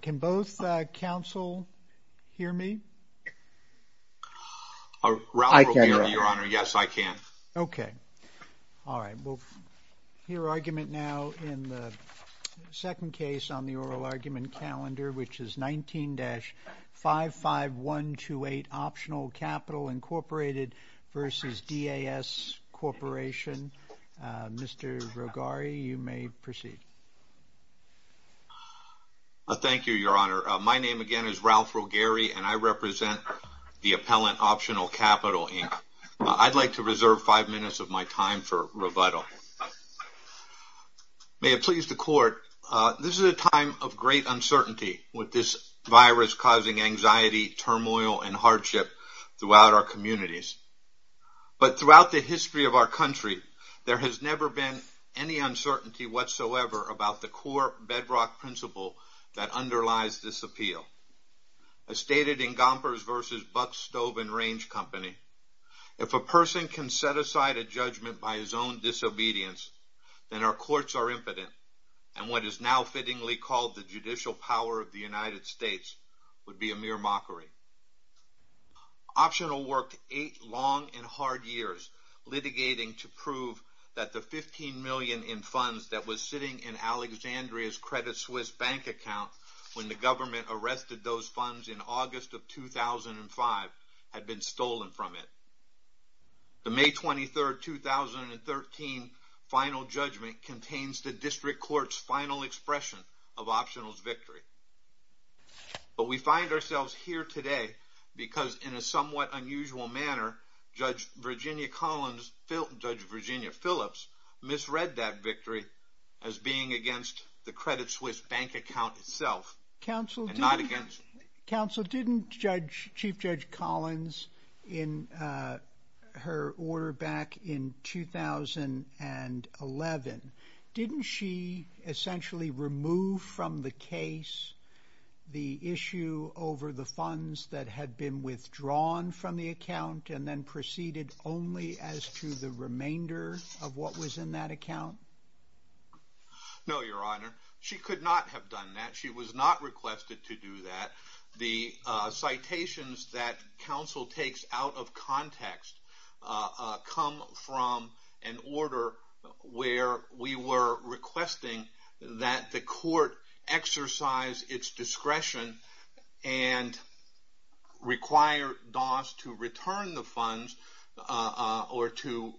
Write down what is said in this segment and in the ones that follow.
Can both counsel hear me? I can, Your Honor. Okay. All right, we'll hear argument now in the second case on the oral argument calendar, which is 19-55128, Optional Capital, Inc. v. DAS Corporation. Mr. Rogari, you may proceed. Thank you, Your Honor. My name, again, is Ralph Rogari, and I represent the appellant, Optional Capital, Inc. I'd like to reserve five minutes of my time for rebuttal. May it please the Court, this is a time of great uncertainty with this virus causing anxiety, turmoil, and hardship throughout our communities. But throughout the history of our country, there has never been any uncertainty whatsoever about the core bedrock principle that underlies this appeal. As stated in Gompers v. Buck's Stove and Range Company, if a person can set aside a judgment by his own disobedience, then our courts are impotent, and what is now fittingly called the judicial power of the United States would be a mere mockery. Optional worked eight long and hard years litigating to prove that the $15 million in funds that was sitting in Alexandria's Credit Suisse bank account when the government arrested those funds in August of 2005 had been stolen from it. The May 23, 2013 final judgment contains the District Court's final expression of Optional's victory. But we find ourselves here today because in a somewhat unusual manner, Judge Virginia Phillips misread that victory as being against the Credit Suisse bank account itself. Counsel, didn't Chief Judge Collins in her order back in 2011, didn't she essentially remove from the case the issue over the funds that had been withdrawn from the account and then proceeded only as to the remainder of what was in that account? No, Your Honor. She could not have done that. She was not requested to do that. The citations that counsel takes out of context come from an order where we were requesting that the court exercise its discretion and require Doss to return the funds or to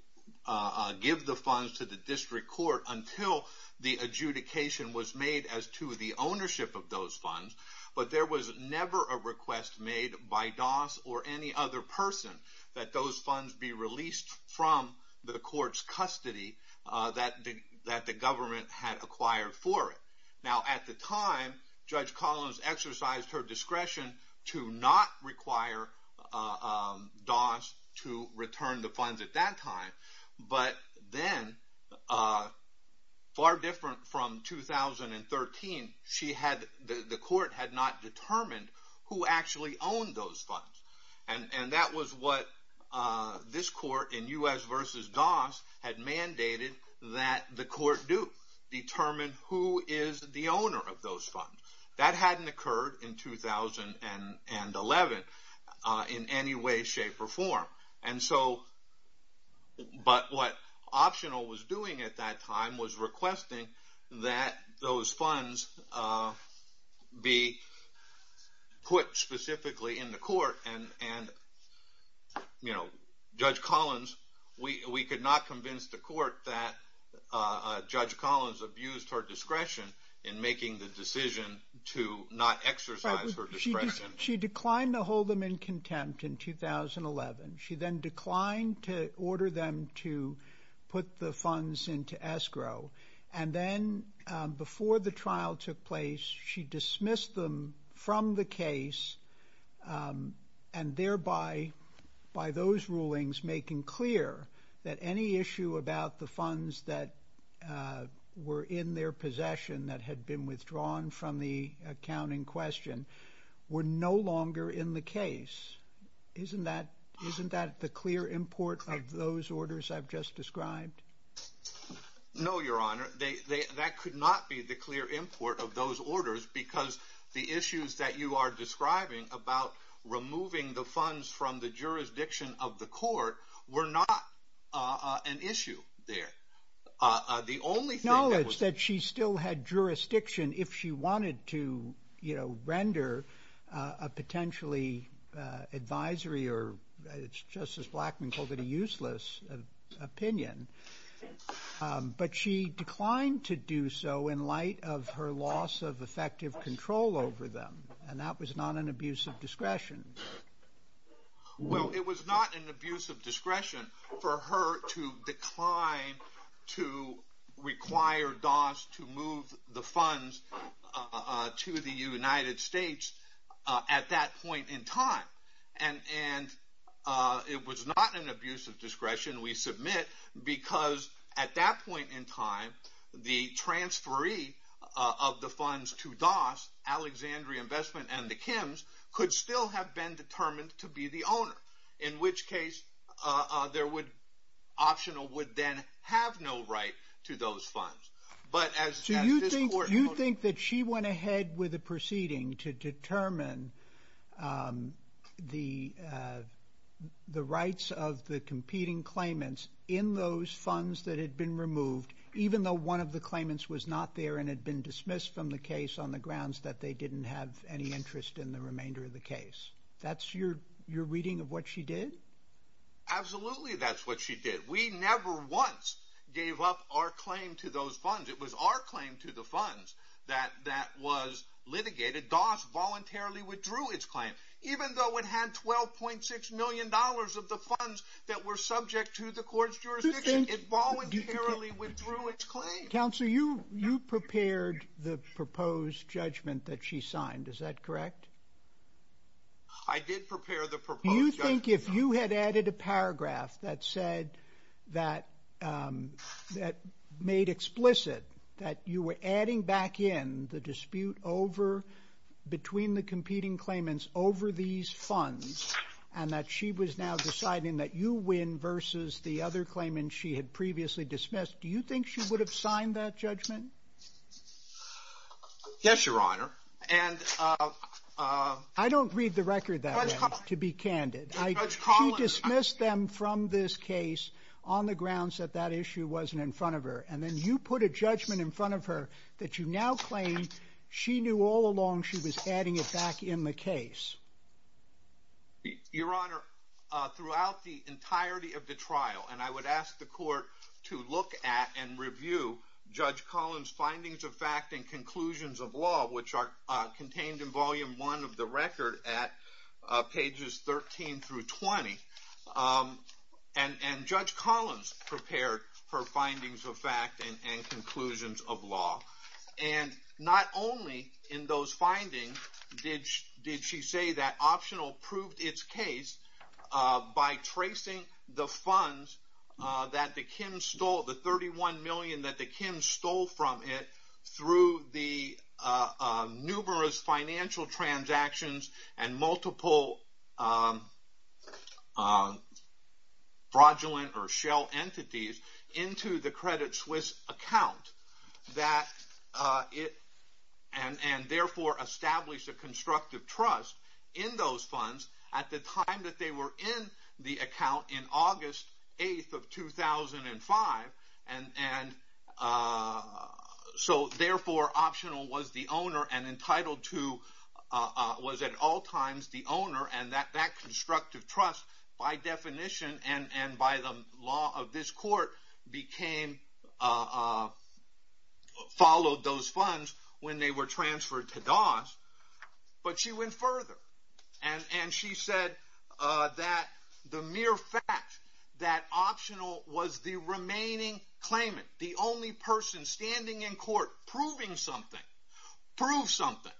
give the funds to the District Court until the adjudication was made as to the ownership of those funds. But there was never a request made by Doss or any other person that those funds be released from the court's custody that the government had acquired for it. Now at the time, Judge Collins exercised her discretion to not require Doss to return the funds at that time. But then, far different from 2013, the court had not determined who actually owned those funds. And that was what this court in U.S. v. Doss had mandated that the court do. Determine who is the owner of those funds. That hadn't occurred in 2011 in any way, shape, or form. But what Optional was doing at that time was requesting that those funds be put specifically in the court and Judge Collins, we could not convince the court that Judge Collins abused her discretion in making the decision to not exercise her discretion. She declined to hold them in contempt in 2011. She then declined to order them to put the funds into escrow. And then, before the trial took place, she dismissed them from the case. And thereby, by those rulings, making clear that any issue about the funds that were in their possession that had been withdrawn from the account in question were no longer in the case. Isn't that the clear import of those orders I've just described? No, Your Honor. That could not be the clear import of those orders because the issues that you are describing about removing the funds from the jurisdiction of the court were not an issue there. The only thing that was... No, it's that she still had jurisdiction if she wanted to, you know, render a potentially advisory or, as Justice Blackmun called it, a useless opinion. But she declined to do so in light of her loss of effective control over them. And that was not an abuse of discretion. Well, it was not an abuse of discretion for her to decline to require DOS to move the funds to the United States at that point in time. And it was not an abuse of discretion, we submit, because at that point in time, the transferee of the funds to DOS, Alexandria Investment and the Kims, could still have been determined to be the owner. In which case, Optional would then have no right to those funds. Do you think that she went ahead with the proceeding to determine the rights of the competing claimants in those funds that had been removed, even though one of the claimants was not there and had been dismissed from the case on the grounds that they didn't have any interest in the remainder of the case? That's your reading of what she did? Absolutely, that's what she did. We never once gave up our claim to those funds. It was our claim to the funds that was litigated. DOS voluntarily withdrew its claim. Even though it had $12.6 million of the funds that were subject to the court's jurisdiction, it voluntarily withdrew its claim. Counselor, you prepared the proposed judgment that she signed, is that correct? I did prepare the proposed judgment. I think if you had added a paragraph that made explicit that you were adding back in the dispute between the competing claimants over these funds, and that she was now deciding that you win versus the other claimants she had previously dismissed, do you think she would have signed that judgment? Yes, Your Honor. I don't read the record that way, to be candid. She dismissed them from this case on the grounds that that issue wasn't in front of her, and then you put a judgment in front of her that you now claim she knew all along she was adding it back in the case. Your Honor, throughout the entirety of the trial, and I would ask the court to look at and review Judge Collins' findings of fact and conclusions of law, which are contained in Volume 1 of the record at pages 13 through 20. And Judge Collins prepared her findings of fact and conclusions of law. And not only in those findings did she say that Optional proved its case by tracing the funds that the Kims stole, through the numerous financial transactions and multiple fraudulent or shell entities, into the Credit Suisse account, and therefore established a constructive trust in those funds at the time that they were in the account in August 8th of 2005. And so therefore Optional was the owner and entitled to, was at all times the owner, and that constructive trust, by definition and by the law of this court, followed those funds when they were transferred to Doss. But she went further and she said that the mere fact that Optional was the remaining claimant, the only person standing in court proving something, proved something,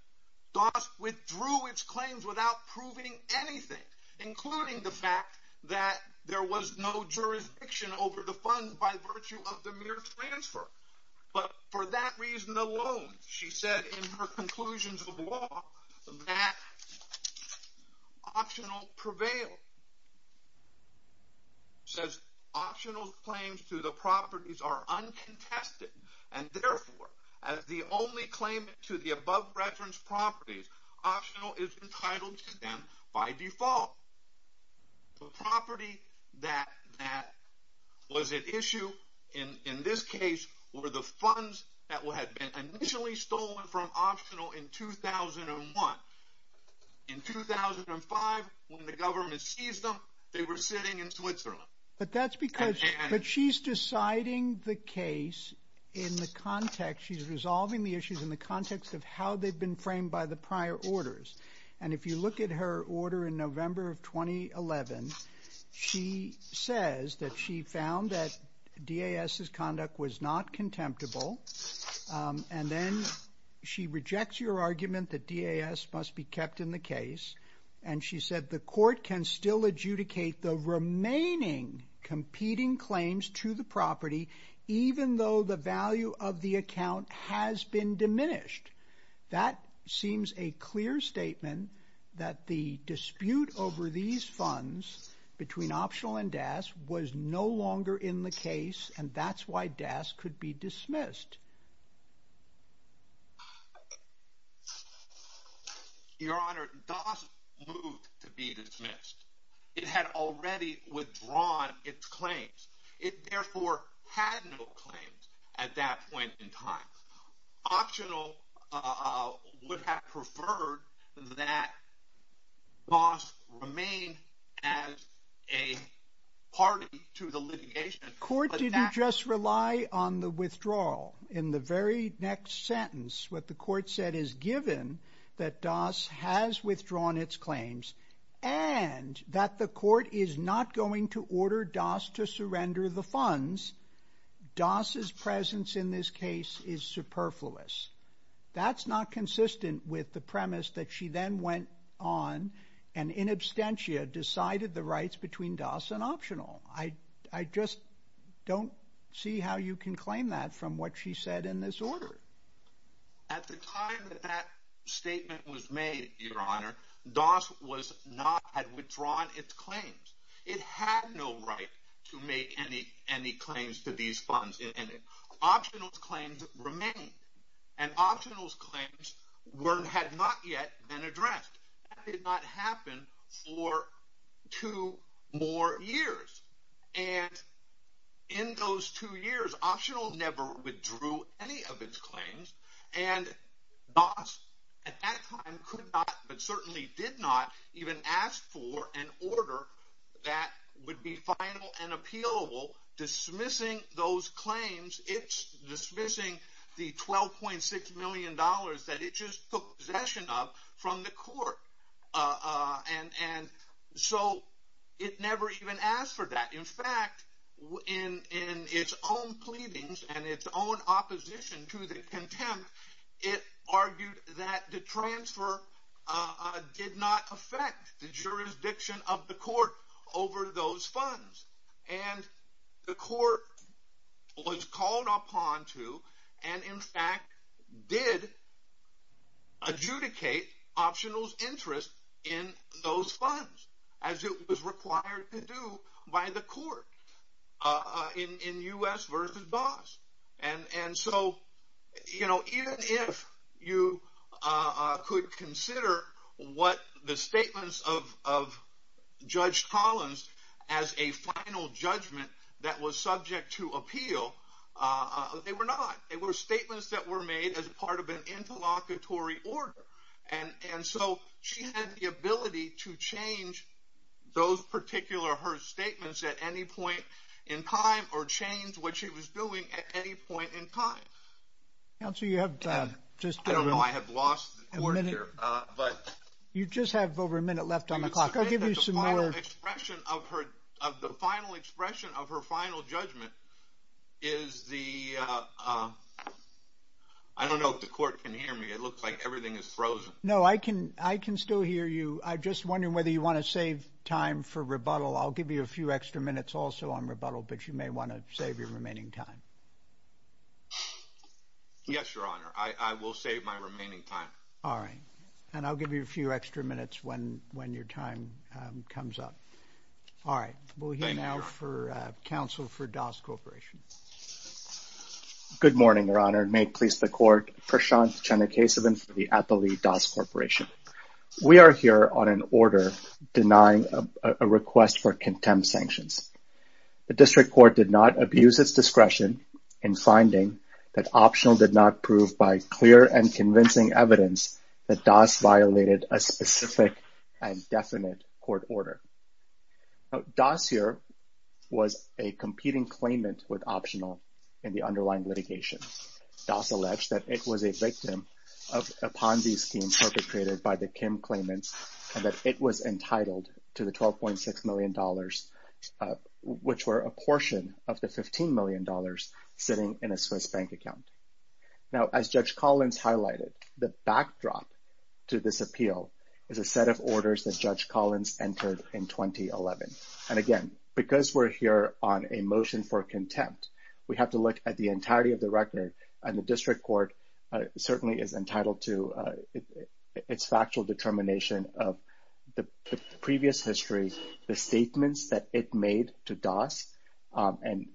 Doss withdrew its claims without proving anything, including the fact that there was no jurisdiction over the funds by virtue of the mere transfer. But for that reason alone, she said in her conclusions of law, that Optional prevailed. She says Optional's claims to the properties are uncontested, and therefore as the only claimant to the above-referenced properties, Optional is entitled to them by default. The property that was at issue in this case, were the funds that had been initially stolen from Optional in 2001. In 2005, when the government seized them, they were sitting in Switzerland. But that's because she's deciding the case in the context, she's resolving the issues in the context of how they've been framed by the prior orders. And if you look at her order in November of 2011, she says that she found that DAS's conduct was not contemptible, and then she rejects your argument that DAS must be kept in the case, and she said the court can still adjudicate the remaining competing claims to the property, even though the value of the account has been diminished. That seems a clear statement that the dispute over these funds between Optional and DAS was no longer in the case, and that's why DAS could be dismissed. Your Honor, DAS moved to be dismissed. It had already withdrawn its claims. It therefore had no claims at that point in time. Optional would have preferred that DAS remain as a party to the litigation. The court didn't just rely on the withdrawal. In the very next sentence, what the court said is, given that DAS has withdrawn its claims, and that the court is not going to order DAS to surrender the funds, DAS's presence in this case is superfluous. That's not consistent with the premise that she then went on and in absentia decided the rights between DAS and Optional. I just don't see how you can claim that from what she said in this order. At the time that that statement was made, Your Honor, DAS had withdrawn its claims. It had no right to make any claims to these funds. Optional's claims remained, and Optional's claims had not yet been addressed. That did not happen for two more years. In those two years, Optional never withdrew any of its claims, and DAS at that time could not, but certainly did not, even ask for an order that would be final and appealable, dismissing those claims. It's dismissing the $12.6 million that it just took possession of from the court. It never even asked for that. In fact, in its own pleadings and its own opposition to the contempt, it argued that the transfer did not affect the jurisdiction of the court over those funds. And the court was called upon to, and in fact did, adjudicate Optional's interest in those funds, as it was required to do by the court in U.S. v. DAS. And so even if you could consider what the statements of Judge Collins as a final judgment that was subject to appeal, they were not. They were statements that were made as part of an interlocutory order. And so she had the ability to change those particular, her statements at any point in time or change what she was doing at any point in time. I don't know, I have lost the court here. You just have over a minute left on the clock. I'll give you some more. The final expression of her final judgment is the, I don't know if the court can hear me. It looks like everything is frozen. No, I can still hear you. I'm just wondering whether you want to save time for rebuttal. I'll give you a few extra minutes also on rebuttal, but you may want to save your remaining time. Yes, Your Honor. I will save my remaining time. All right. And I'll give you a few extra minutes when your time comes up. All right. We'll hear now for counsel for DAS Corporation. Good morning, Your Honor. May it please the court. Prashant Chennakesavan for the Atlee DAS Corporation. We are here on an order denying a request for contempt sanctions. The district court did not abuse its discretion in finding that Optional did not prove by clear and convincing evidence that DAS violated a specific and definite court order. DAS here was a competing claimant with Optional in the underlying litigation. DAS alleged that it was a victim of a Ponzi scheme perpetrated by the Kim claimants and that it was entitled to the $12.6 million, which were a portion of the $15 million sitting in a Swiss bank account. Now, as Judge Collins highlighted, the backdrop to this appeal is a set of orders that Judge Collins entered in 2011. And, again, because we're here on a motion for contempt, we have to look at the entirety of the record, and the district court certainly is entitled to its factual determination of the previous history, the statements that it made to DAS, and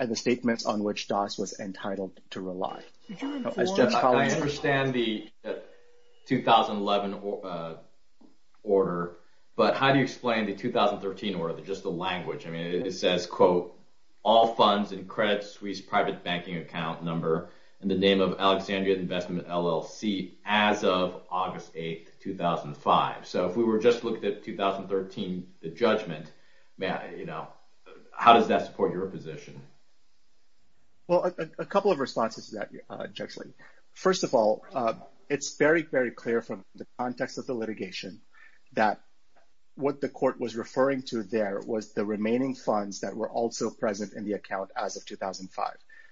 the statements on which DAS was entitled to rely. Judge Collins. I understand the 2011 order, but how do you explain the 2013 order, just the language? I mean, it says, quote, all funds and credits Swiss private banking account number in the name of Alexandria Investment LLC as of August 8, 2005. So if we were just looking at 2013, the judgment, you know, how does that support your position? Well, a couple of responses to that, Judge Lee. First of all, it's very, very clear from the context of the litigation that what the court was referring to there was the remaining funds that were also present in the account as of 2005.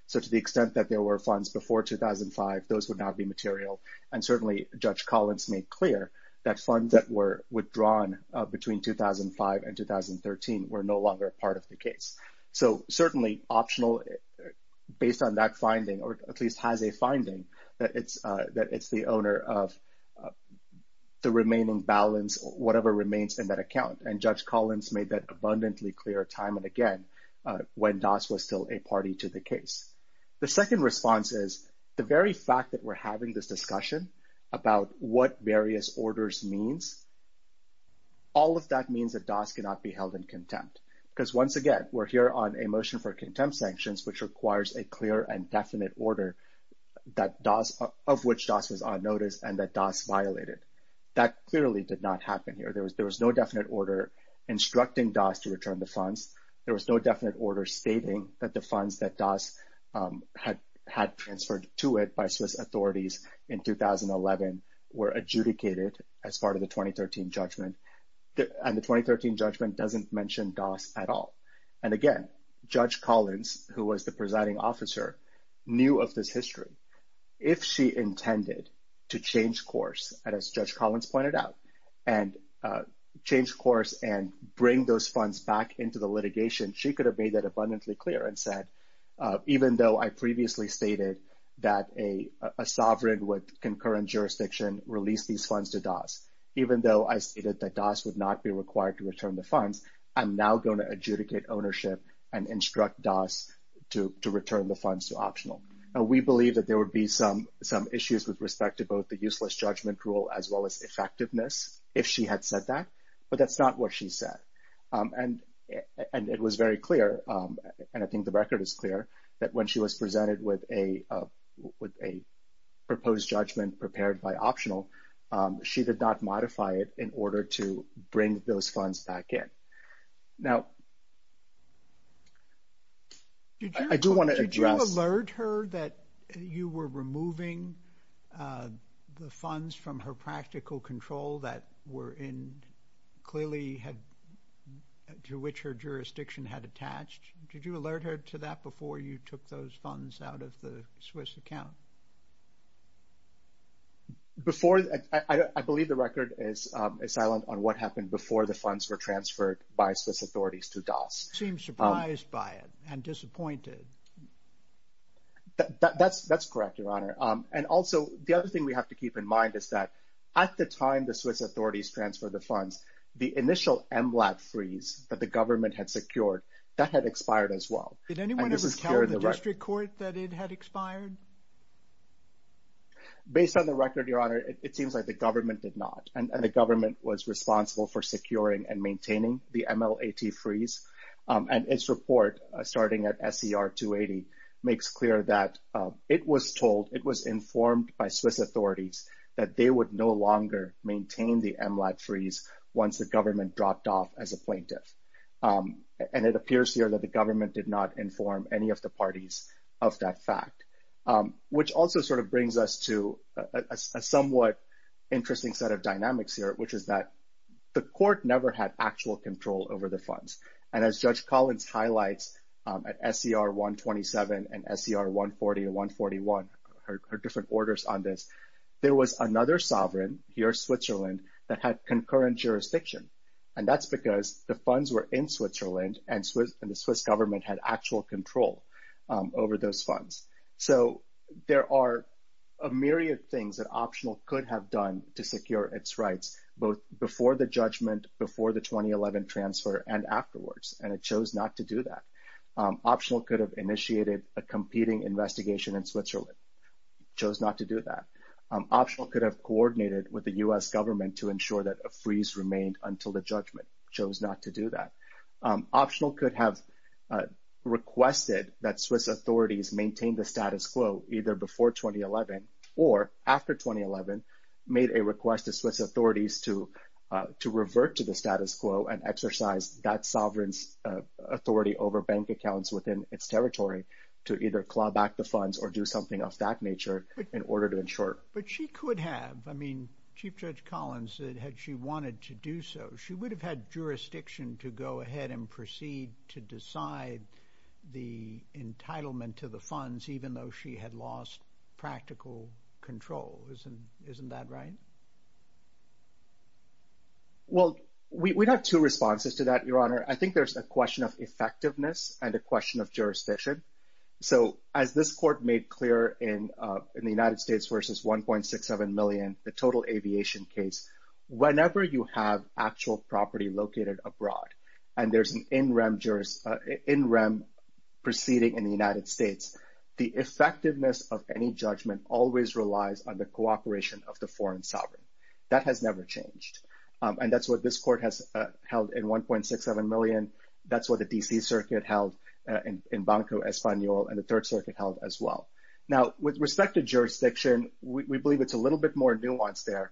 So to the extent that there were funds before 2005, those would not be material. And certainly Judge Collins made clear that funds that were withdrawn between 2005 and 2013 were no longer part of the case. So certainly optional, based on that finding, or at least has a finding that it's the owner of the remaining balance, whatever remains in that account. And Judge Collins made that abundantly clear time and again, when DAS was still a party to the case. The second response is the very fact that we're having this discussion about what various orders means, all of that means that DAS cannot be held in contempt. Because once again, we're here on a motion for contempt sanctions, which requires a clear and definite order that DAS, of which DAS was on notice and that DAS violated. That clearly did not happen here. There was no definite order instructing DAS to return the funds. There was no definite order stating that the funds that DAS had transferred to it by Swiss authorities in 2011 were adjudicated as part of the 2013 judgment. And the 2013 judgment doesn't mention DAS at all. And again, Judge Collins, who was the presiding officer, knew of this history. If she intended to change course, and as Judge Collins pointed out, and change course and bring those funds back into the litigation, she could have made that abundantly clear and said, even though I previously stated that a sovereign with concurrent jurisdiction released these funds to DAS, even though I stated that DAS would not be required to return the funds, I'm now going to adjudicate ownership and instruct DAS to return the funds to optional. Now, we believe that there would be some issues with respect to both the useless judgment rule as well as effectiveness if she had said that, but that's not what she said. And it was very clear, and I think the record is clear, that when she was presented with a proposed judgment prepared by optional, she did not modify it in order to bring those funds back in. Now, I do want to address... Did you alert her that you were removing the funds from her practical control that were in clearly had, to which her jurisdiction had attached? Did you alert her to that before you took those funds out of the Swiss account? Before, I believe the record is silent on what happened before the funds were transferred by Swiss authorities to DAS. You seem surprised by it and disappointed. That's correct, Your Honor. And also, the other thing we have to keep in mind is that at the time the Swiss authorities transferred the funds, the initial MLAT freeze that the government had secured, that had expired as well. Did anyone ever tell the district court that it had expired? Based on the record, Your Honor, it seems like the government did not, and the government was responsible for securing and maintaining the MLAT freeze. And its report, starting at SER 280, makes clear that it was told, it was informed by Swiss authorities that they would no longer maintain the MLAT freeze once the government dropped off as a plaintiff. And it appears here that the government did not inform any of the parties of that fact, which also sort of brings us to a somewhat interesting set of dynamics here, which is that the court never had actual control over the funds. And as Judge Collins highlights at SER 127 and SER 140 and 141, her different orders on this, there was another sovereign, here Switzerland, that had concurrent jurisdiction. And that's because the funds were in Switzerland, and the Swiss government had actual control over those funds. So there are a myriad of things that Optional could have done to secure its rights, both before the judgment, before the 2011 transfer, and afterwards. And it chose not to do that. Optional could have initiated a competing investigation in Switzerland. Chose not to do that. Optional could have coordinated with the U.S. government to ensure that a freeze remained until the judgment. Chose not to do that. Optional could have requested that Swiss authorities maintain the status quo, either before 2011 or after 2011, made a request to Swiss authorities to revert to the status quo and exercise that sovereign's authority over bank accounts within its territory to either claw back the funds or do something of that nature in order to ensure. But she could have. I mean, Chief Judge Collins said had she wanted to do so, she would have had jurisdiction to go ahead and proceed to decide the entitlement to the funds, even though she had lost practical control. Isn't that right? Well, we have two responses to that, Your Honor. I think there's a question of effectiveness and a question of jurisdiction. So as this court made clear in the United States versus 1.67 million, the total aviation case, whenever you have actual property located abroad and there's an in-rem proceeding in the United States, the effectiveness of any judgment always relies on the cooperation of the foreign sovereign. That has never changed. And that's what this court has held in 1.67 million. That's what the D.C. Circuit held in Banco Español, and the Third Circuit held as well. Now, with respect to jurisdiction, we believe it's a little bit more nuanced there.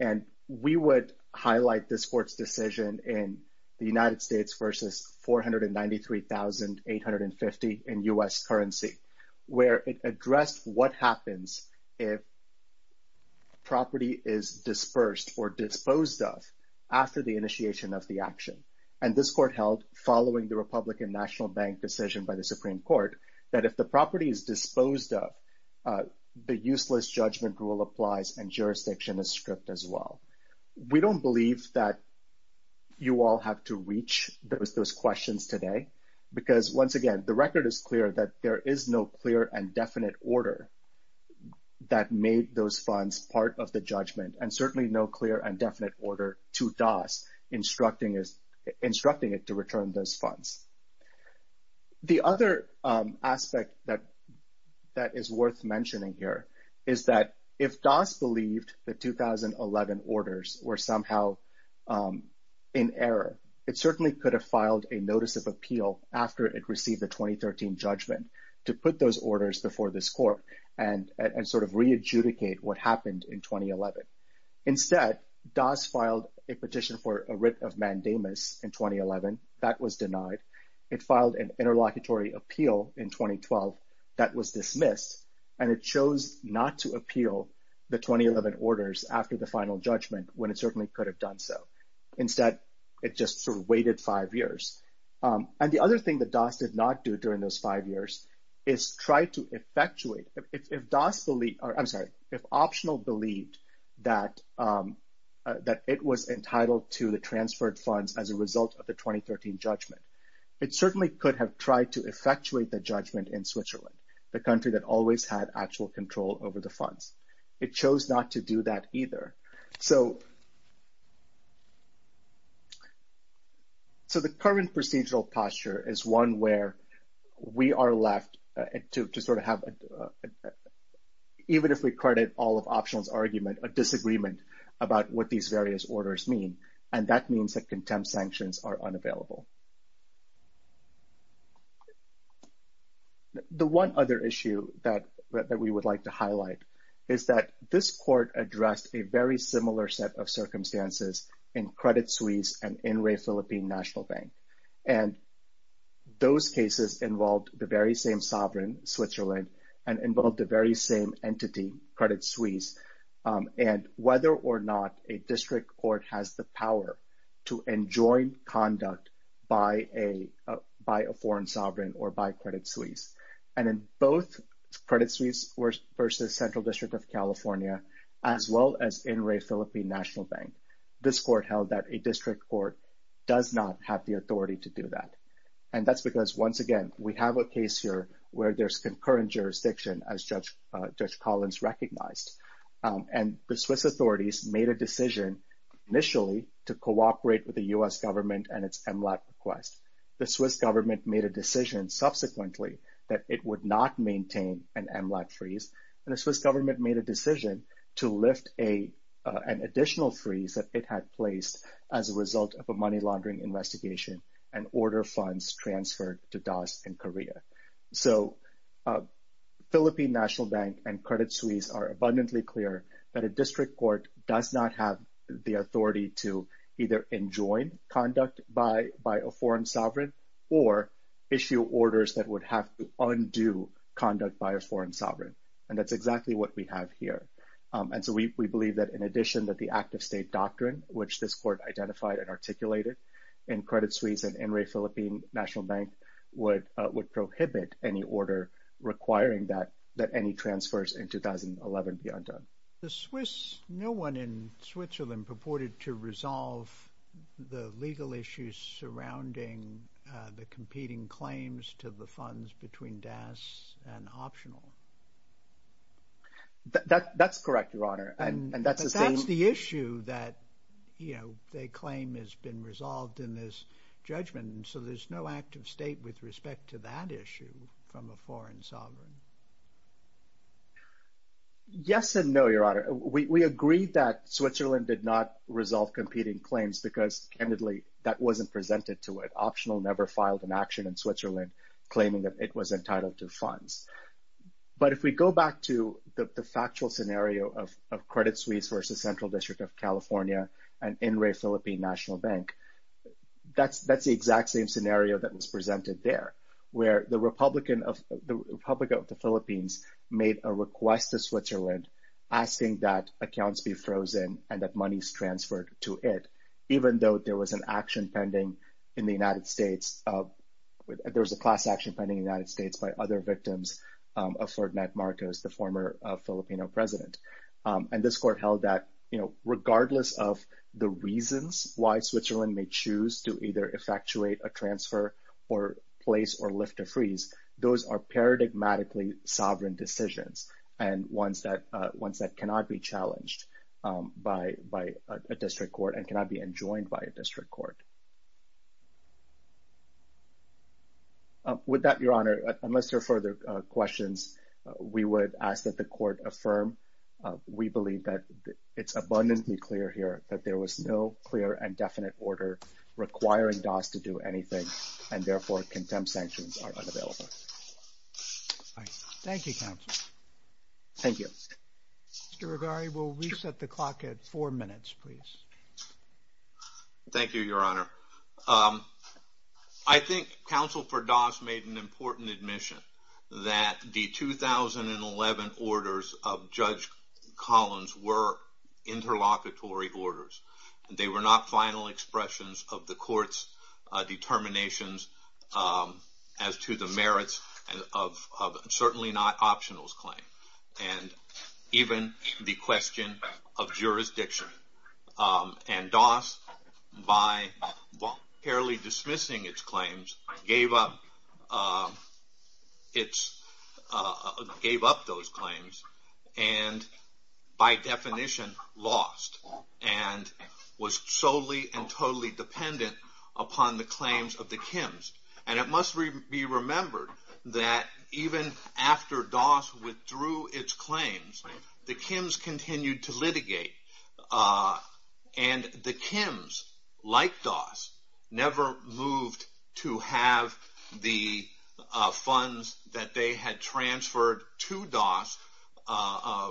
And we would highlight this court's decision in the United States versus 493,850 in U.S. currency, where it addressed what happens if property is dispersed or disposed of after the initiation of the action. And this court held, following the Republican National Bank decision by the Supreme Court, that if the property is disposed of, the useless judgment rule applies and jurisdiction is stripped as well. We don't believe that you all have to reach those questions today because, once again, the record is clear that there is no clear and definite order that made those funds part of the judgment and certainly no clear and definite order to DAS instructing it to return those funds. The other aspect that is worth mentioning here is that if DAS believed the 2011 orders were somehow in error, it certainly could have filed a notice of appeal after it received the 2013 judgment to put those orders before this court and sort of re-adjudicate what happened in 2011. Instead, DAS filed a petition for a writ of mandamus in 2011. That was denied. It filed an interlocutory appeal in 2012. That was dismissed. And it chose not to appeal the 2011 orders after the final judgment when it certainly could have done so. Instead, it just sort of waited five years. And the other thing that DAS did not do during those five years is try to effectuate. If DAS believed, I'm sorry, if Optional believed that it was entitled to the transferred funds as a result of the 2013 judgment, it certainly could have tried to effectuate the judgment in Switzerland, the country that always had actual control over the funds. So the current procedural posture is one where we are left to sort of have, even if we credit all of Optional's argument, a disagreement about what these various orders mean. And that means that contempt sanctions are unavailable. The one other issue that we would like to highlight is that this court addressed a very similar set of circumstances in Credit Suisse and in Re Philippine National Bank. And those cases involved the very same sovereign, Switzerland, and involved the very same entity, Credit Suisse. And whether or not a district court has the power to enjoin conduct by a foreign sovereign or by Credit Suisse. And in both Credit Suisse versus Central District of California, as well as in Re Philippine National Bank, this court held that a district court does not have the authority to do that. And that's because, once again, we have a case here where there's concurrent jurisdiction, as Judge Collins recognized. And the Swiss authorities made a decision initially to cooperate with the U.S. government and its MLAT request. The Swiss government made a decision subsequently that it would not maintain an MLAT freeze. And the Swiss government made a decision to lift an additional freeze that it had placed as a result of a money laundering investigation and order funds transferred to DAS in Korea. So Philippine National Bank and Credit Suisse are abundantly clear that a district court does not have the authority to either enjoin conduct by a foreign sovereign or issue orders that would have to undo conduct by a foreign sovereign. And that's exactly what we have here. And so we believe that, in addition, that the active state doctrine, which this court identified and articulated in Credit Suisse and in Re Philippine National Bank, would prohibit any order requiring that any transfers in 2011 be undone. The Swiss, no one in Switzerland, purported to resolve the legal issues surrounding the competing claims to the funds between DAS and optional. That's correct, Your Honor. And that's the issue that, you know, they claim has been resolved in this judgment. So there's no active state with respect to that issue from a foreign sovereign. Yes and no, Your Honor. We agreed that Switzerland did not resolve competing claims because, candidly, that wasn't presented to it. Optional never filed an action in Switzerland claiming that it was entitled to funds. But if we go back to the factual scenario of Credit Suisse versus Central District of California and in Re Philippine National Bank, that's the exact same scenario that was presented there, where the Republican of the Philippines made a request to Switzerland asking that accounts be frozen and that money is transferred to it, even though there was an action pending in the United States. There was a class action pending in the United States by other victims of Ferdinand Marcos, the former Filipino president. And this court held that, you know, regardless of the reasons why Switzerland may choose to either effectuate a transfer or place or lift a freeze, those are paradigmatically sovereign decisions and ones that cannot be challenged by a district court and cannot be enjoined by a district court. With that, Your Honor, unless there are further questions, we would ask that the court affirm. We believe that it's abundantly clear here that there was no clear and definite order requiring DAS to do anything and therefore contempt sanctions are unavailable. Thank you, counsel. Thank you. Mr. Rigari, we'll reset the clock at four minutes, please. Thank you, Your Honor. I think counsel for DAS made an important admission that the 2011 orders of Judge Collins were interlocutory orders. They were not final expressions of the court's determinations as to the merits of a certainly not optionals claim. And even the question of jurisdiction. And DAS, by fairly dismissing its claims, gave up those claims and by definition lost and was solely and totally dependent upon the claims of the Kims. And it must be remembered that even after DAS withdrew its claims, the Kims continued to litigate. And the Kims, like DAS, never moved to have the funds that they had transferred to DAS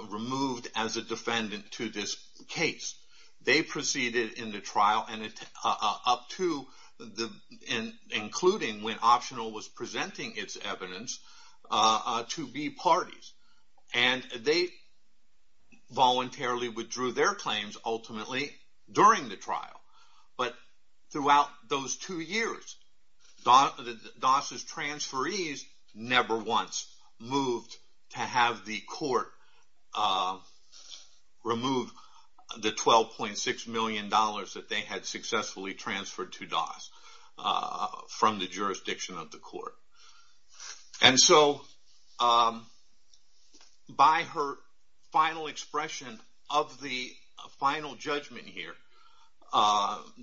removed as a defendant to this case. They proceeded in the trial, including when optional was presenting its evidence, to be parties. And they voluntarily withdrew their claims ultimately during the trial. But throughout those two years, DAS's transferees never once moved to have the court remove the $12.6 million that they had successfully transferred to DAS from the jurisdiction of the court. And so by her final expression of the final judgment here,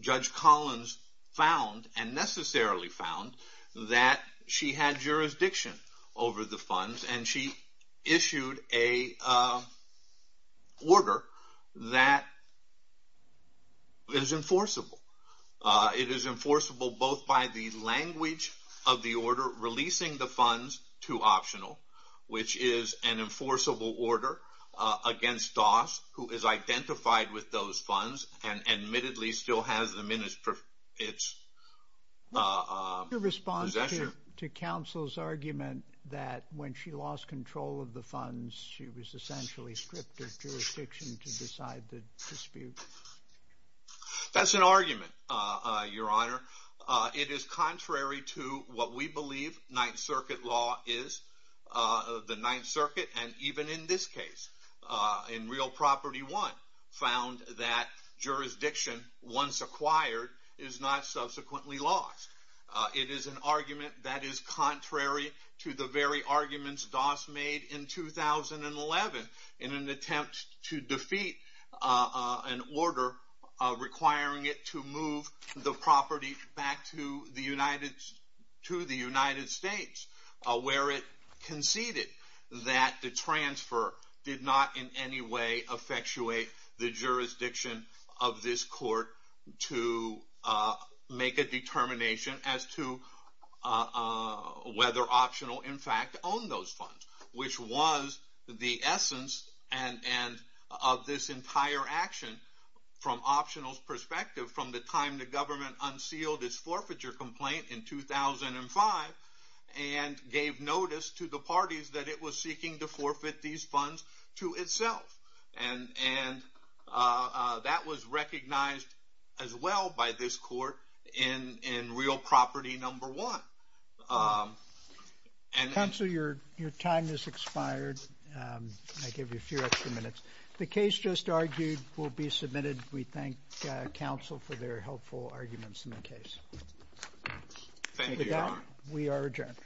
Judge Collins found, and necessarily found, that she had jurisdiction over the funds. And she issued an order that is enforceable. It is enforceable both by the language of the order releasing the funds to optional, which is an enforceable order against DAS, who is identified with those funds and admittedly still has them in its possession. Your response to counsel's argument that when she lost control of the funds, she was essentially stripped of jurisdiction to decide the dispute? That's an argument, Your Honor. It is contrary to what we believe Ninth Circuit law is. The Ninth Circuit, and even in this case, in Real Property 1, found that jurisdiction, once acquired, is not subsequently lost. It is an argument that is contrary to the very arguments DAS made in 2011 in an attempt to defeat an order requiring it to move the property back to the United States, where it conceded that the transfer did not in any way effectuate the jurisdiction of this court to make a determination as to whether Optional in fact owned those funds, which was the essence of this entire action from Optional's perspective from the time the government unsealed its forfeiture complaint in 2005 and gave notice to the parties that it was seeking to forfeit these funds to itself. And that was recognized as well by this court in Real Property 1. Counsel, your time has expired. I'll give you a few extra minutes. The case just argued will be submitted. We thank counsel for their helpful arguments in the case. Thank you, Your Honor. We are adjourned.